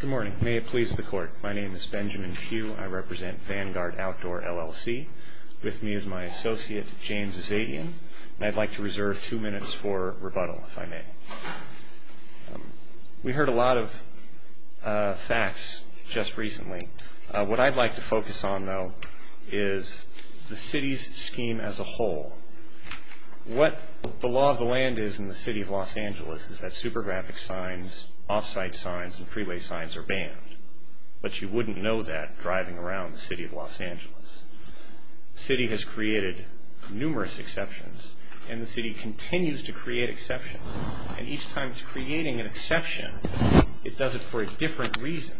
Good morning. May it please the court. My name is Benjamin Pugh. I represent Vanguard Outdoor, LLC. With me is my associate, James Azadian, and I'd like to reserve two minutes for rebuttal, if I may. We heard a lot of facts just recently. What I'd like to focus on, though, is the city's scheme as a whole. What the law of the land is in the City of Los Angeles. The city has created numerous exceptions, and the city continues to create exceptions. And each time it's creating an exception, it does it for a different reason.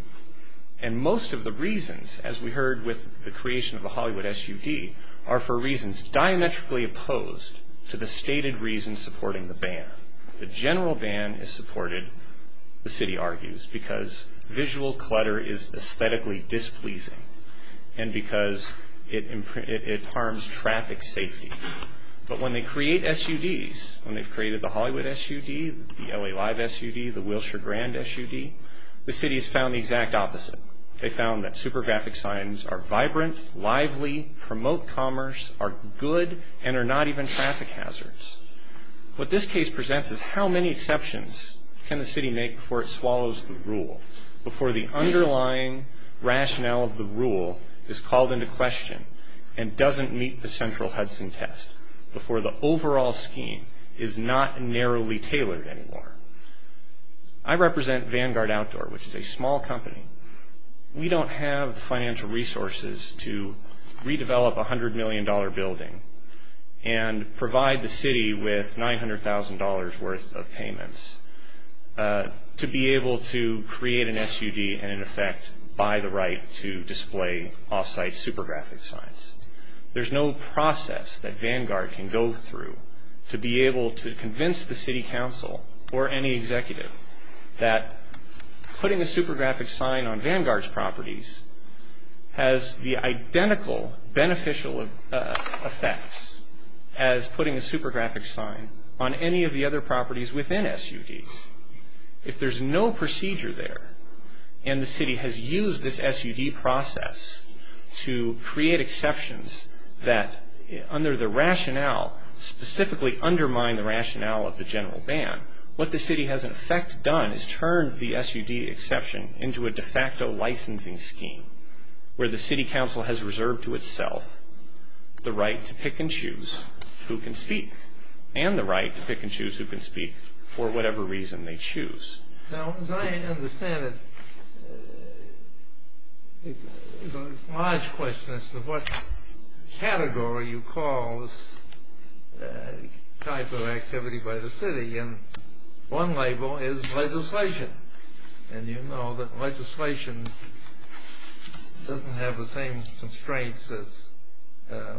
And most of the reasons, as we heard with the creation of the Hollywood SUD, are for reasons diametrically opposed to the stated reasons supporting the ban. The general ban is supported, the city argues, because visual clutter is aesthetically displeasing and because it harms traffic safety. But when they create SUDs, when they've created the Hollywood SUD, the LA Live SUD, the Wilshire Grand SUD, the city has found the exact opposite. They found that super graphic signs are vibrant, lively, promote commerce, are good, and are not even traffic hazards. What this case presents is how many exceptions can the city make before it swallows the rule, before the underlying rationale of the rule is called into question and doesn't meet the central Hudson test, before the overall scheme is not narrowly tailored anymore. I represent Vanguard Outdoor, which is a small company. We don't have the financial resources to redevelop a $100 million building and provide the city with $900,000 worth of payments to be able to create an SUD and, in effect, buy the right to display offsite super graphic signs. There's no process that Vanguard can go through to be able to convince the city council or any executive that putting a super graphic sign on Vanguard's properties has the identical beneficial effects as putting a super graphic sign on any of the other properties within SUDs. If there's no procedure there and the city has used this SUD process to create exceptions that, under the rationale, specifically undermine the rationale of the general ban, what the city has, in effect, done is turned the SUD exception into a de facto licensing scheme where the city council has reserved to itself the right to pick and choose who can speak and the right to pick and choose who can speak for whatever reason they want. A large question is what category you call this type of activity by the city. One label is legislation. You know that legislation doesn't have the same constraints as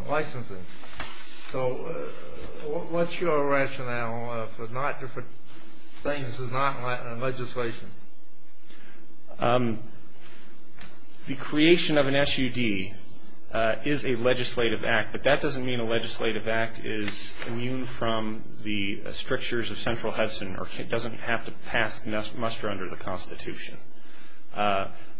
licensing. What's your rationale for saying this is not legislation? The creation of an SUD is a legislative act, but that doesn't mean a legislative act is immune from the strictures of central Hudson or doesn't have to muster under the Constitution.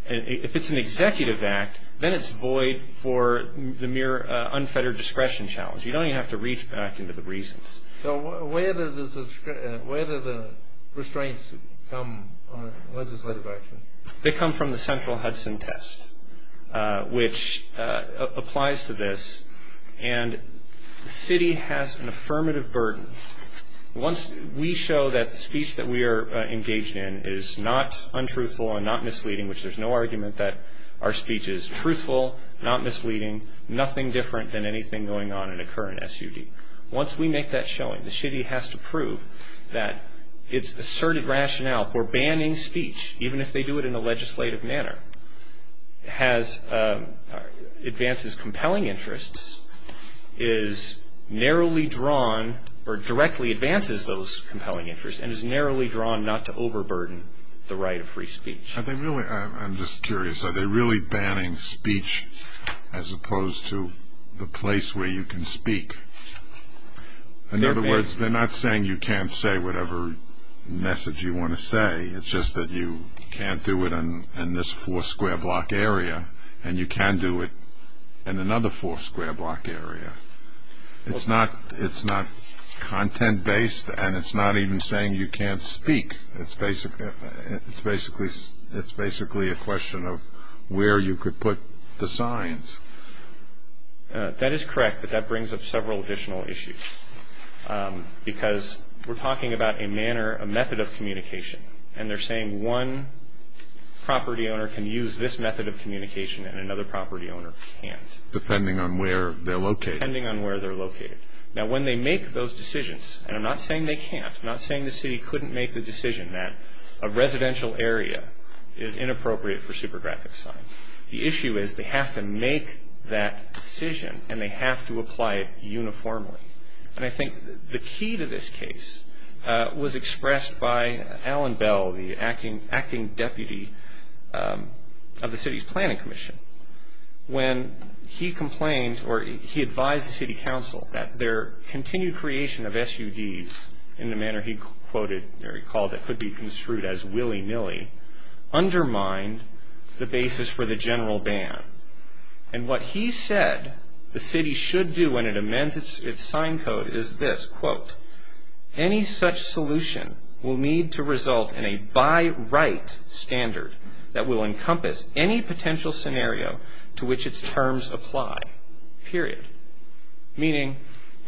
If it's an executive act, then it's void for the mere unfettered discretion challenge. You don't even have to reach back into the reasons. So where do the restraints come on legislative action? They come from the central Hudson test, which applies to this. And the city has an affirmative burden. Once we show that speech that we are engaged in is not untruthful and not misleading, which there's no argument that our speech is truthful, not misleading, nothing different than anything going on in a current SUD. Once we make that showing, the city has to prove that its asserted rationale for banning speech, even if they do it in a legislative manner, advances compelling interests, is narrowly drawn or directly advances those compelling interests, and is narrowly drawn not to overburden the right of free speech. Are they really, I'm just curious, are they really banning speech as opposed to the place where you can speak? In other words, they're not saying you can't say whatever message you want to say. It's just that you can't do it in this four square block area and you can do it in another four square block area. It's not content based and it's not even saying you can't speak. It's basically a question of where you could put the signs. That is correct, but that brings up several additional issues. Because we're talking about a manner, a method of communication, and they're saying one property owner can use this method of communication and another property owner can't. Depending on where they're located. Depending on where they're located. Now when they make those decisions, and I'm not saying they can't. I'm not saying the city couldn't make the decision that a residential area is inappropriate for super graphic sign. The issue is they have to make that decision and they have to apply it uniformly. And I think the key to this case was expressed by Alan Bell, the acting deputy of the city's planning commission. When he complained, or he advised the city council that their continued creation of SUDs in the manner he quoted, or he called it, could be construed as willy-nilly, undermined the basis for the general ban. And what he said the city should do when it amends its sign code is this, quote, any such solution will need to result in a by right standard that will encompass any potential scenario to which its terms apply, period. Meaning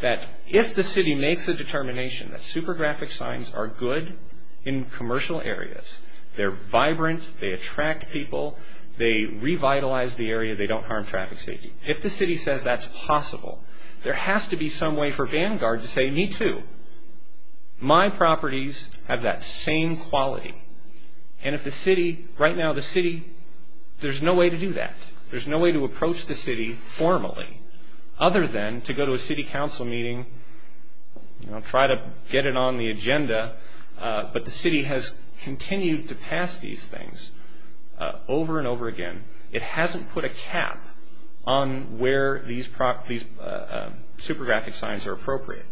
that if the city makes a determination that super graphic signs are good in commercial areas, they're vibrant, they attract people, they revitalize the area, they don't harm traffic safety. If the city says that's possible, there has to be some way for Vanguard to say, me too. My properties have that same quality. And if the city, right now the city, there's no way to do other than to go to a city council meeting, try to get it on the agenda, but the city has continued to pass these things over and over again. It hasn't put a cap on where these super graphic signs are appropriate,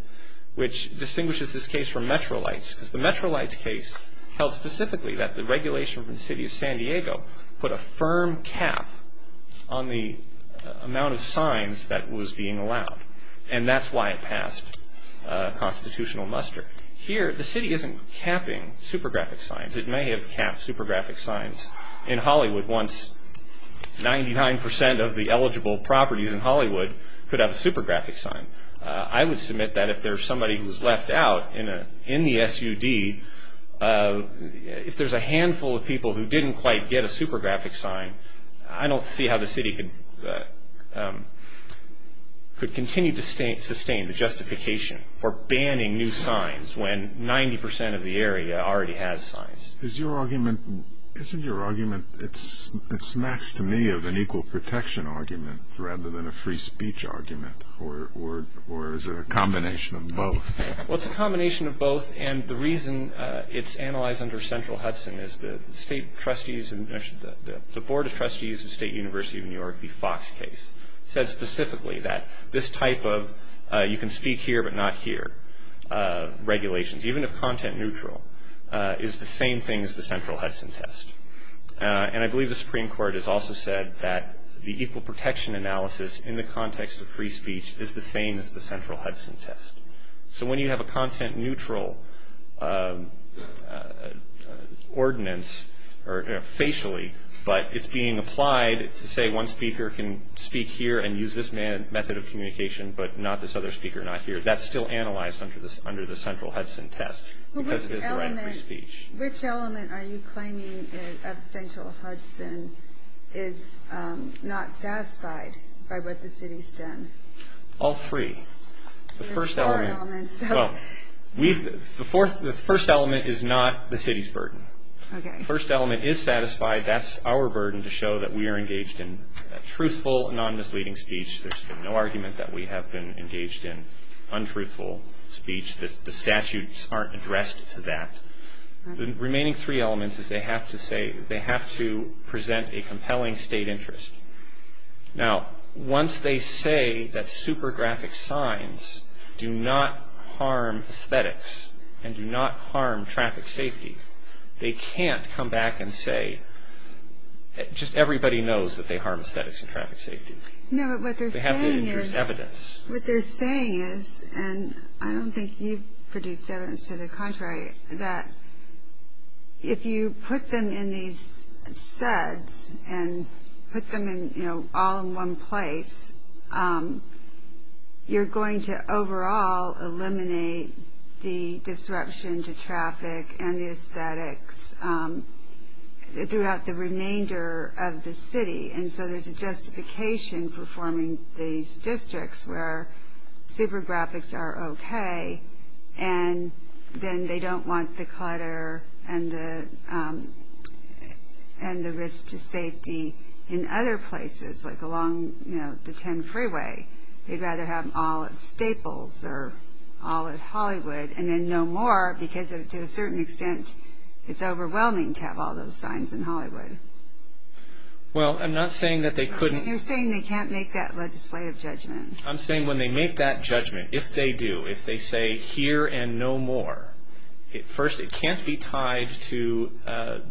which distinguishes this case from Metrolight's, because the Metrolight's case held specifically that the regulation from the city of San Diego put a firm cap on the amount of signs that was being allowed. And that's why it passed constitutional muster. Here, the city isn't capping super graphic signs. It may have capped super graphic signs in Hollywood once 99% of the eligible properties in Hollywood could have a super graphic sign. I would submit that if there's somebody who's left out in the SUD, if there's a I don't see how the city could continue to sustain the justification for banning new signs when 90% of the area already has signs. Is your argument, isn't your argument, it's next to me of an equal protection argument rather than a free speech argument? Or is it a combination of both? Well, it's a combination of both. And the reason it's analyzed under central Hudson is the state trustees of State University of New York, the Fox case, said specifically that this type of you can speak here but not here regulations, even if content neutral, is the same thing as the central Hudson test. And I believe the Supreme Court has also said that the equal protection analysis in the context of free speech is the same as the central Hudson test. So when you have a content neutral ordinance, or facially, but it's being applied to say one speaker can speak here and use this method of communication, but not this other speaker not here. That's still analyzed under the central Hudson test, because it is a right of free speech. Which element are you claiming of central Hudson is not satisfied by what the city's done? All three. The first element is not the city's burden. The first element is satisfied. That's our burden to show that we are engaged in truthful, non-misleading speech. There's been no argument that we have been engaged in untruthful speech. The statutes aren't addressed to that. The remaining three elements is they have to present a compelling state interest. Now, once they say that super graphic signs do not harm aesthetics and do not harm traffic safety, they can't come back and say, just everybody knows that they harm aesthetics and traffic safety. They haven't introduced evidence. What they're saying is, and I don't think you've produced evidence to the contrary, that if you put them in these suds and put them in, you know, all in one place, you're going to overall eliminate the disruption to traffic and the aesthetics throughout the remainder of the city. And so there's a justification for forming these districts where super graphics are okay, and then they don't want the clutter and the risk to safety in other places, like along the 10 freeway. They'd rather have them all at Staples or all at Hollywood, and then no more, because to a certain extent, it's overwhelming to have all those signs in Hollywood. Well, I'm not saying that they couldn't... I'm saying when they make that judgment, if they do, if they say here and no more, first, it can't be tied to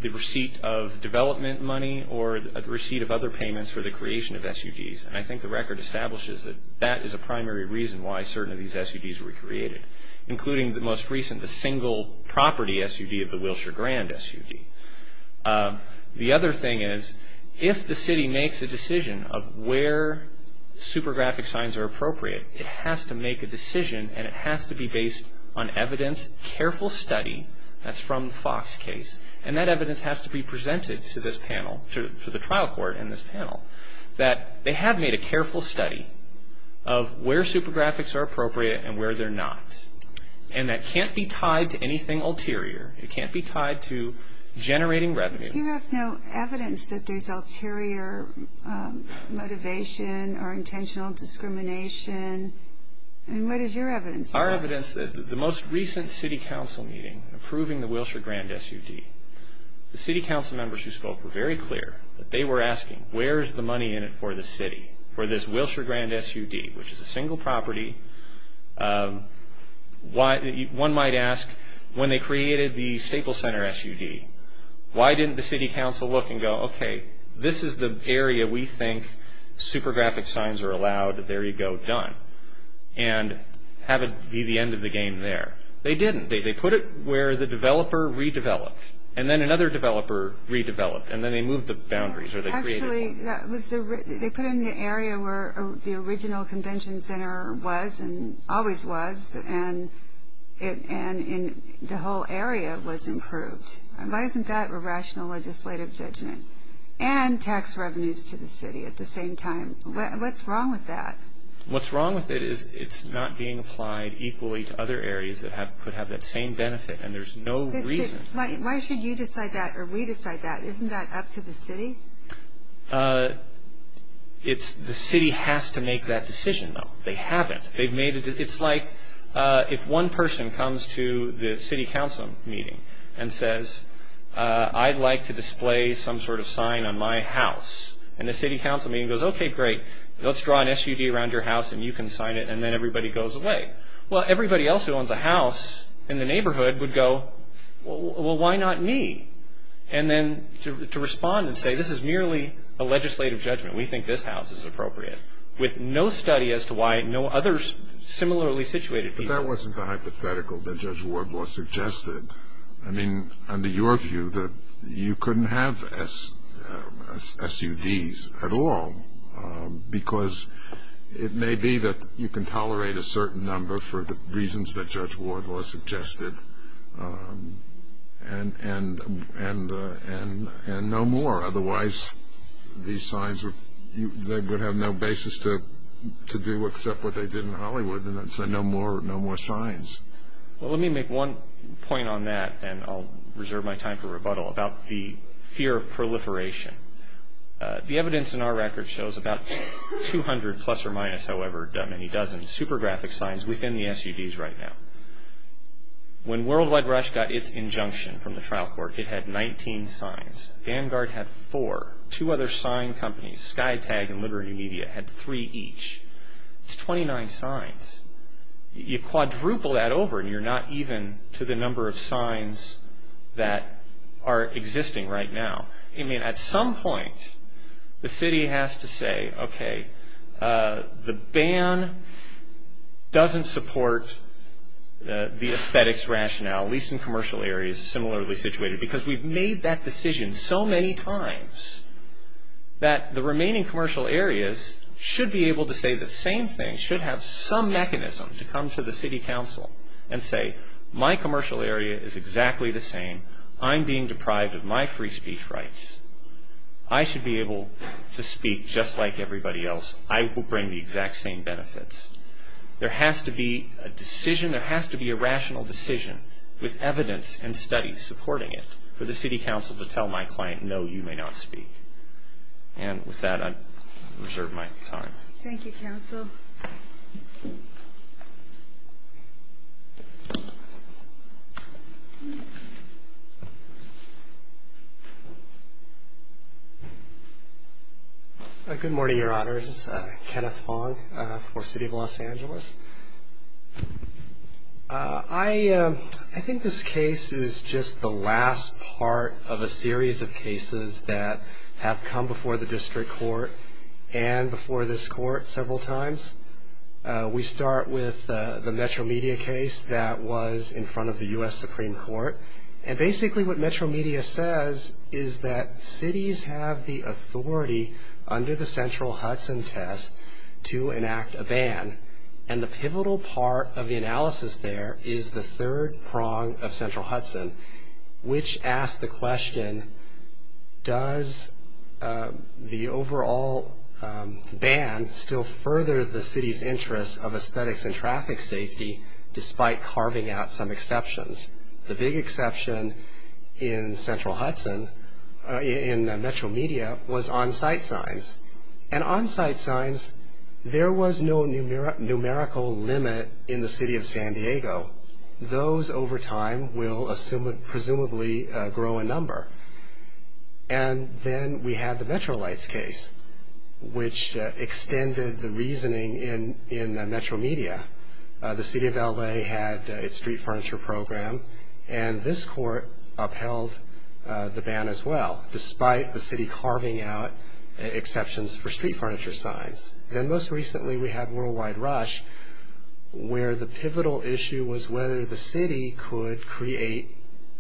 the receipt of development money or the receipt of other payments for the creation of SUDs. And I think the record establishes that that is a primary reason why certain of these SUDs were created, including the most recent, the single property SUD of the Wilshire Grand SUD. The other thing is, if the city makes a decision of where super graphic signs are appropriate, it has to make a decision and it has to be based on evidence, careful study, that's from the Fox case, and that evidence has to be presented to this panel, to the trial court and this panel, that they have made a careful study of where super graphics are appropriate and where they're not. And that can't be tied to anything ulterior. It can't be tied to generating revenue. You have no evidence that there's ulterior motivation or intentional discrimination. And what is your evidence? Our evidence that the most recent city council meeting approving the Wilshire Grand SUD, the city council members who spoke were very clear that they were asking, where's the money in it for the city, for this Wilshire city council look and go, okay, this is the area we think super graphic signs are allowed, there you go, done. And have it be the end of the game there. They didn't. They put it where the developer redeveloped, and then another developer redeveloped, and then they moved the boundaries or they created more. Actually, they put in the area where the original convention center was and always was, and the whole area was approved. And why isn't that a rational legislative judgment? And tax revenues to the city at the same time. What's wrong with that? What's wrong with it is it's not being applied equally to other areas that could have that same benefit, and there's no reason. Why should you decide that or we decide that? Isn't that up to the city? It's the city has to make that decision, though. They haven't. It's like if one person comes to the city council meeting and says, I'd like to display some sort of sign on my house, and the city council meeting goes, okay, great, let's draw an SUV around your house, and you can sign it, and then everybody goes away. Well, everybody else who owns a house in the neighborhood would go, well, why not me? And then to respond and say, this is merely a legislative judgment. We think this house is appropriate. With no study as to why no others similarly situated people. That wasn't the hypothetical that Judge Wardlaw suggested. I mean, under your view, that you couldn't have SUDs at all, because it may be that you can tolerate a certain number for the reasons that Judge Wardlaw suggested, and no more. Otherwise, these signs would have no basis to do except what they did in Hollywood, and that's no more signs. Well, let me make one point on that, and I'll reserve my time for rebuttal, about the fear of proliferation. The evidence in our record shows about 200 plus or minus, however many dozens, super graphic signs within the SUVs right now. When Worldwide Rush got its injunction from the trial court, it had 19 signs. Vanguard had four. Two other sign companies, Skytag and Liberty Media, had three each. It's 29 signs. You quadruple that over, and you're not even to the number of signs that are existing right now. I mean, at some point, the city has to say, okay, the ban doesn't support the aesthetics rationale, at least in commercial areas similarly situated, because we've made that decision so many times that the remaining commercial areas should be able to say the same thing, should have some mechanism to come to the city council and say, my commercial area is exactly the same. I'm being deprived of my free speech rights. I should be able to speak just like everybody else. I will bring the exact same benefits. There has to be a decision. There has to be a rational decision with evidence and studies supporting it for the city council to tell my client, no, you may not speak. And with that, I reserve my time. Thank you, counsel. Good morning, your honors. Kenneth Fong for City of Los Angeles. I think this case is just the last part of a series of cases that have come before the district court and before this court several times. We start with the Metro Media case that was in front of the U.S. Supreme Court. And basically, what Metro Media says is that cities have the authority and the pivotal part of the analysis there is the third prong of Central Hudson, which asks the question, does the overall ban still further the city's interest of aesthetics and traffic safety despite carving out some exceptions? The big exception in Central Hudson, in Metro Media, was on-site signs. And on-site signs, there was no numerical limit in the city of San Diego. Those, over time, will presumably grow in number. And then we have the Metro Lights case, which extended the reasoning in Metro Media. The city of L.A. had its street furniture program, and this court upheld the ban as well, despite the city carving out exceptions for street furniture signs. Then, most recently, we had Worldwide Rush, where the pivotal issue was whether the city could create,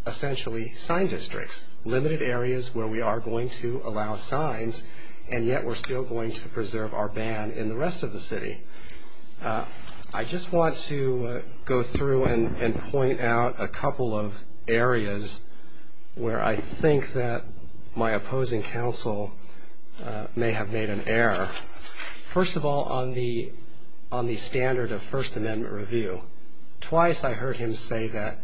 essentially, sign districts, limited areas where we are going to allow signs, and yet we're still going to preserve our ban in the rest of the city. I just want to go through and point out a couple of areas where I think that my opposing counsel may have made an error. First of all, on the standard of First Amendment review. Twice I heard him say that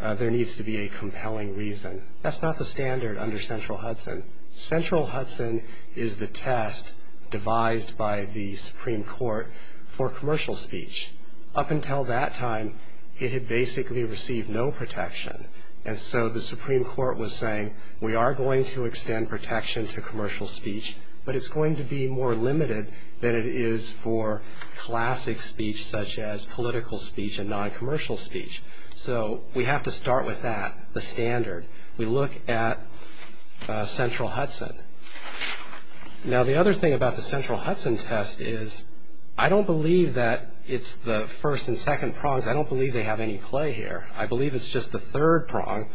there needs to be a compelling reason. That's not the standard under Central Hudson. Central Hudson is the test devised by the Supreme Court for commercial speech. Up until that time, it had basically received no protection, and so the Supreme Court was saying, we are going to extend protection to commercial speech, but it's going to be more limited than it is for classic speech, such as political speech and non-commercial speech. So, we have to start with that, the standard. We look at Central Hudson. Now, the other thing about the Central Hudson test is, I don't believe that it's the first and second prongs, I don't believe they have any play here. I believe it's just the third prong,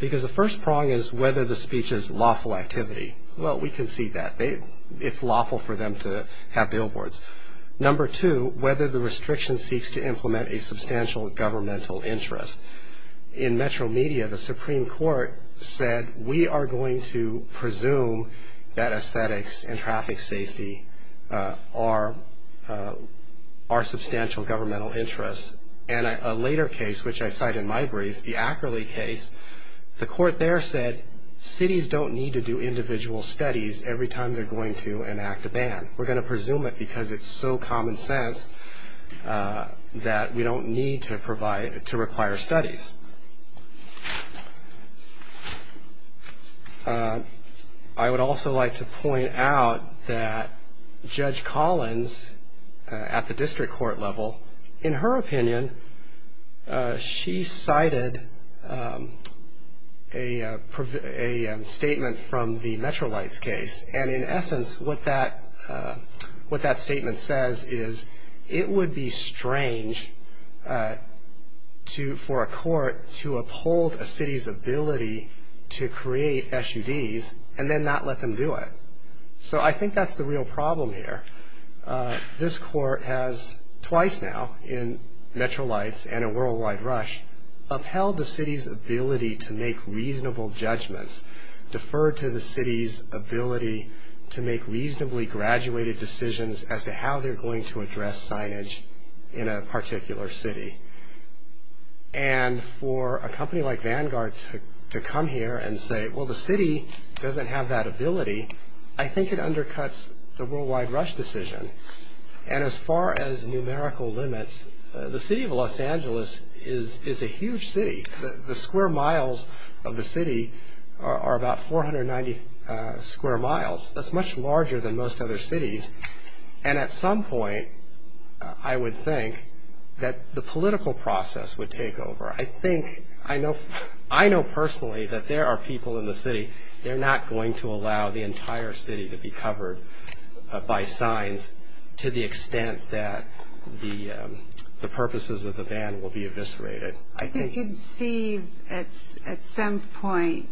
because the first prong is whether the speech is lawful activity. Well, we can see that. It's lawful for them to have billboards. Number two, whether the restriction seeks to implement a substantial governmental interest. In Metro Media, the Supreme Court said, we are going to presume that aesthetics and traffic safety are substantial governmental interests, and a later case, which I cite in my brief, the Ackerley case, the court there said, cities don't need to do individual studies every time they're going to enact a ban. We're going to presume it because it's so common sense that we don't need to require studies. I would also like to point out that Judge Collins, at the district court level, in her opinion, she cited a statement from the Metro Lights case, and in essence, what that statement says is, it would be strange for a court to uphold a city's ability to create SUDs and then not let them do it. So, I think that's the real problem here. This court has, twice now, in Metro Lights and a worldwide rush, upheld the city's ability to make reasonable judgments, deferred to the city's ability to make reasonably graduated decisions as to how they're going to address signage in a particular city. And for a company like Vanguard to come here and say, well, the city doesn't have that ability, I think it undercuts the worldwide rush decision. And as far as numerical limits, the city of Los Angeles is a huge city. The square miles of the city are about 490 square miles. That's much larger than most other cities. And at some point, I would think that the political process would take over. I think, I know personally that there are people in the city, they're not going to allow the entire city to be covered by signs to the extent that the purposes of the ban will be eviscerated. I think. You can see at some point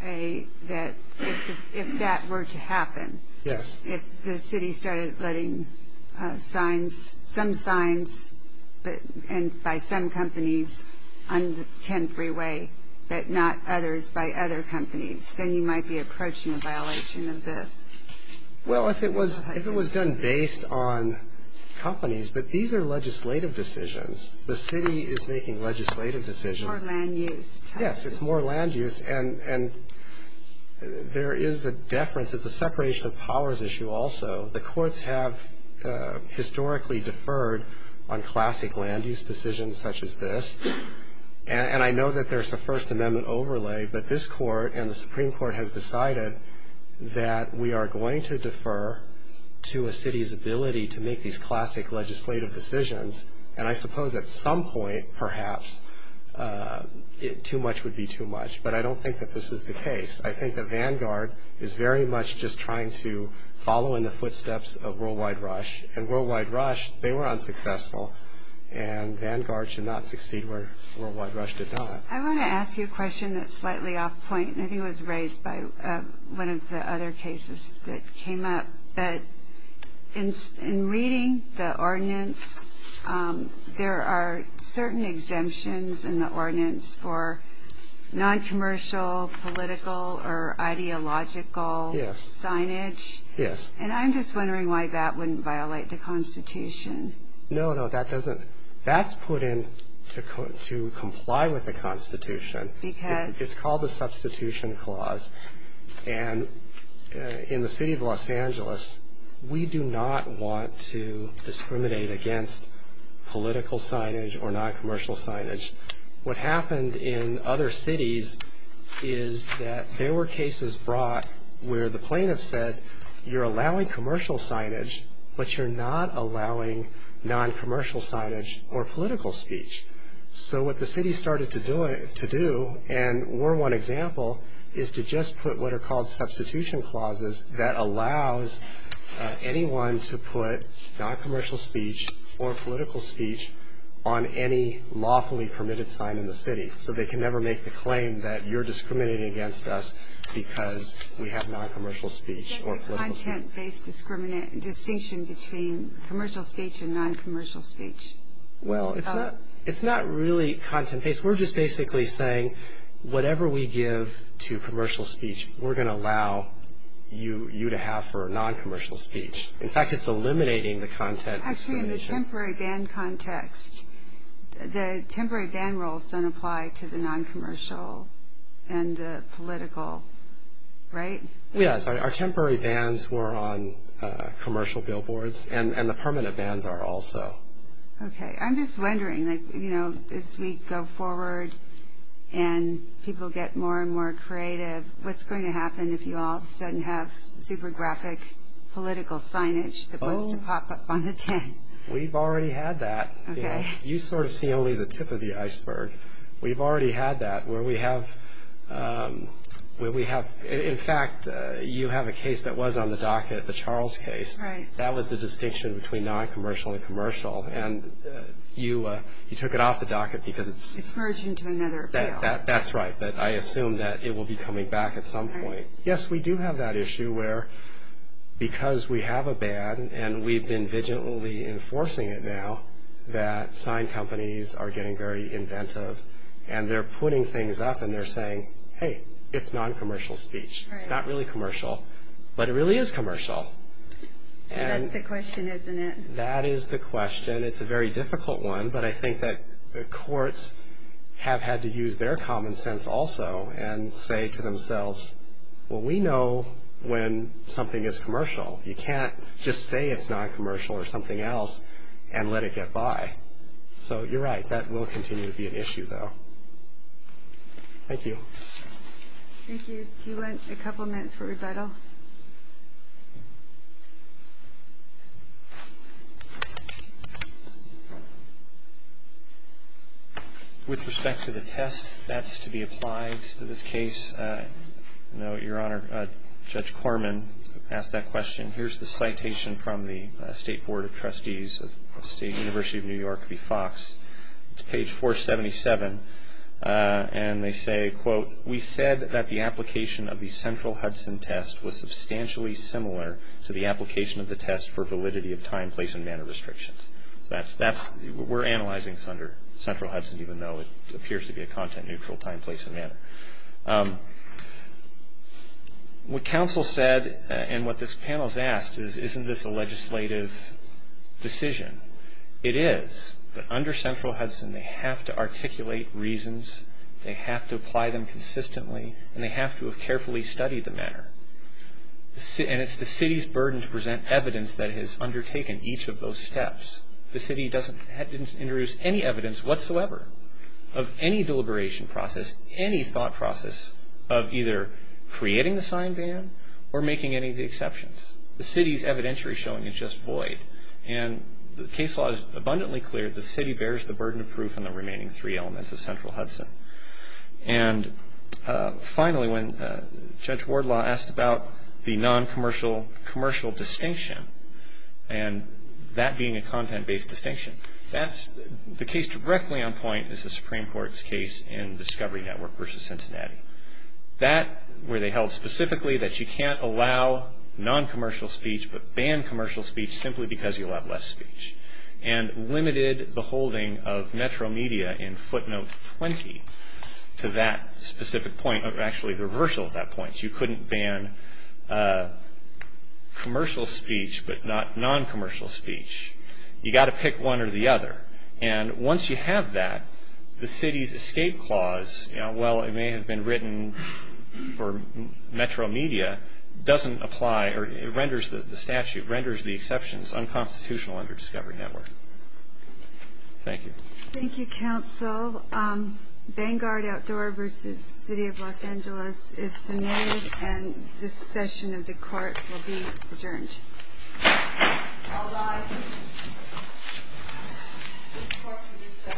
that if that were to happen. Yes. If the city started letting some signs by some companies on the 10 freeway, but not others by other companies, then you might be approaching a violation of the. Well, if it was done based on companies. But these are legislative decisions. The city is making legislative decisions. More land use. Yes, it's more land use. And there is a deference, it's a separation of powers issue also. The courts have historically deferred on classic land use decisions such as this. And I know that there's a first amendment overlay, but this court and the Supreme Court has decided that we are going to defer to a city's ability to make these classic legislative decisions. And I suppose at some point, perhaps, too much would be too much. But I don't think that this is the case. I think that Vanguard is very much just trying to follow in the footsteps of Worldwide Rush. And Worldwide Rush, they were unsuccessful. And Vanguard should not succeed where Worldwide Rush did not. I want to ask you a question that's slightly off point. And I think it was raised by one of the other cases that came up. But in reading the ordinance, there are certain exemptions in the ordinance for noncommercial, political, or ideological signage. Yes. And I'm just wondering why that wouldn't violate the Constitution. No, no, that doesn't. That's put in to comply with the Constitution. Because? It's called the Substitution Clause. And in the city of Los Angeles, we do not want to discriminate against political signage or noncommercial signage. What happened in other cities is that there were cases brought where the plaintiff said you're allowing commercial signage, but you're not allowing noncommercial signage or political speech. So what the city started to do, and we're one example, is to just put what are called substitution clauses that allows anyone to put noncommercial speech or political speech on any lawfully permitted sign in the city. So they can never make the claim that you're discriminating against us because we have noncommercial speech or political speech. Is that the content-based distinction between commercial speech and noncommercial speech? Well, it's not really content-based. We're just basically saying whatever we give to commercial speech, we're going to allow you to have for noncommercial speech. In fact, it's eliminating the content. Actually, in the temporary ban context, the temporary ban rules don't apply to the noncommercial and the political, right? Yes. Our temporary bans were on commercial billboards, and the permanent bans are also. Okay. I'm just wondering, you know, as we go forward and people get more and more creative, what's going to happen if you all of a sudden have super graphic political signage that wants to pop up on the tin? We've already had that. Okay. You sort of see only the tip of the iceberg. We've already had that where we have, in fact, you have a case that was on the docket, the Charles case. Right. That was the distinction between noncommercial and commercial, and you took it off the docket because it's... It's merged into another appeal. That's right, but I assume that it will be coming back at some point. Yes, we do have that issue where because we have a ban, and we've been vigilantly enforcing it now, that sign companies are getting very inventive, and they're putting things up, and they're saying, hey, it's noncommercial speech. It's not really commercial, but it really is commercial. That's the question, isn't it? That is the question. It's a very difficult one, but I think that the courts have had to use their common sense also and say to themselves, well, we know when something is commercial. You can't just say it's noncommercial or something else and let it get by. So you're right. That will continue to be an issue, though. Thank you. Thank you. Do you want a couple of minutes for rebuttal? With respect to the test that's to be applied to this case, I know your Honor, Judge Corman asked that question. Here's the citation from the State Board of Trustees of the University of New York v. Fox. It's page 477, and they say, quote, we said that the application of the Central Hudson test was substantially similar to the application of the test for validity of time, place, and manner restrictions. That's, we're analyzing this under Central Hudson, even though it appears to be a content-neutral time, place, and manner. What counsel said and what this panel has asked is, isn't this a legislative decision? It is, but under Central Hudson, they have to articulate reasons, they have to apply them consistently, and they have to have carefully studied the manner. And it's the city's burden to present evidence that has undertaken each of those steps. The city doesn't introduce any evidence whatsoever of any deliberation process, any thought process of either creating the sign ban or making any of the exceptions. The city's evidentiary showing is just void. And the case law is abundantly clear. The city bears the burden of proof on the remaining three elements of Central Hudson. And finally, when Judge Wardlaw asked about the non-commercial commercial distinction, and that being a content-based distinction, that's, the case directly on point is the Supreme Court's case in Discovery Network versus Cincinnati. That, where they held specifically that you can't allow non-commercial speech but ban commercial speech simply because you'll have less speech. And limited the holding of Metro Media in footnote 20 to that specific point, or actually the reversal of that point. You couldn't ban commercial speech but not non-commercial speech. You got to pick one or the other. And once you have that, the city's escape clause, well, it may have been written for Metro Media, doesn't apply, or it renders the statute, renders the exceptions on constitutional under Discovery Network. Thank you. Thank you, counsel. Vanguard Outdoor versus City of Los Angeles is submitted. And this session of the court will be adjourned. All rise. This court will be discussed at the end of the hearing.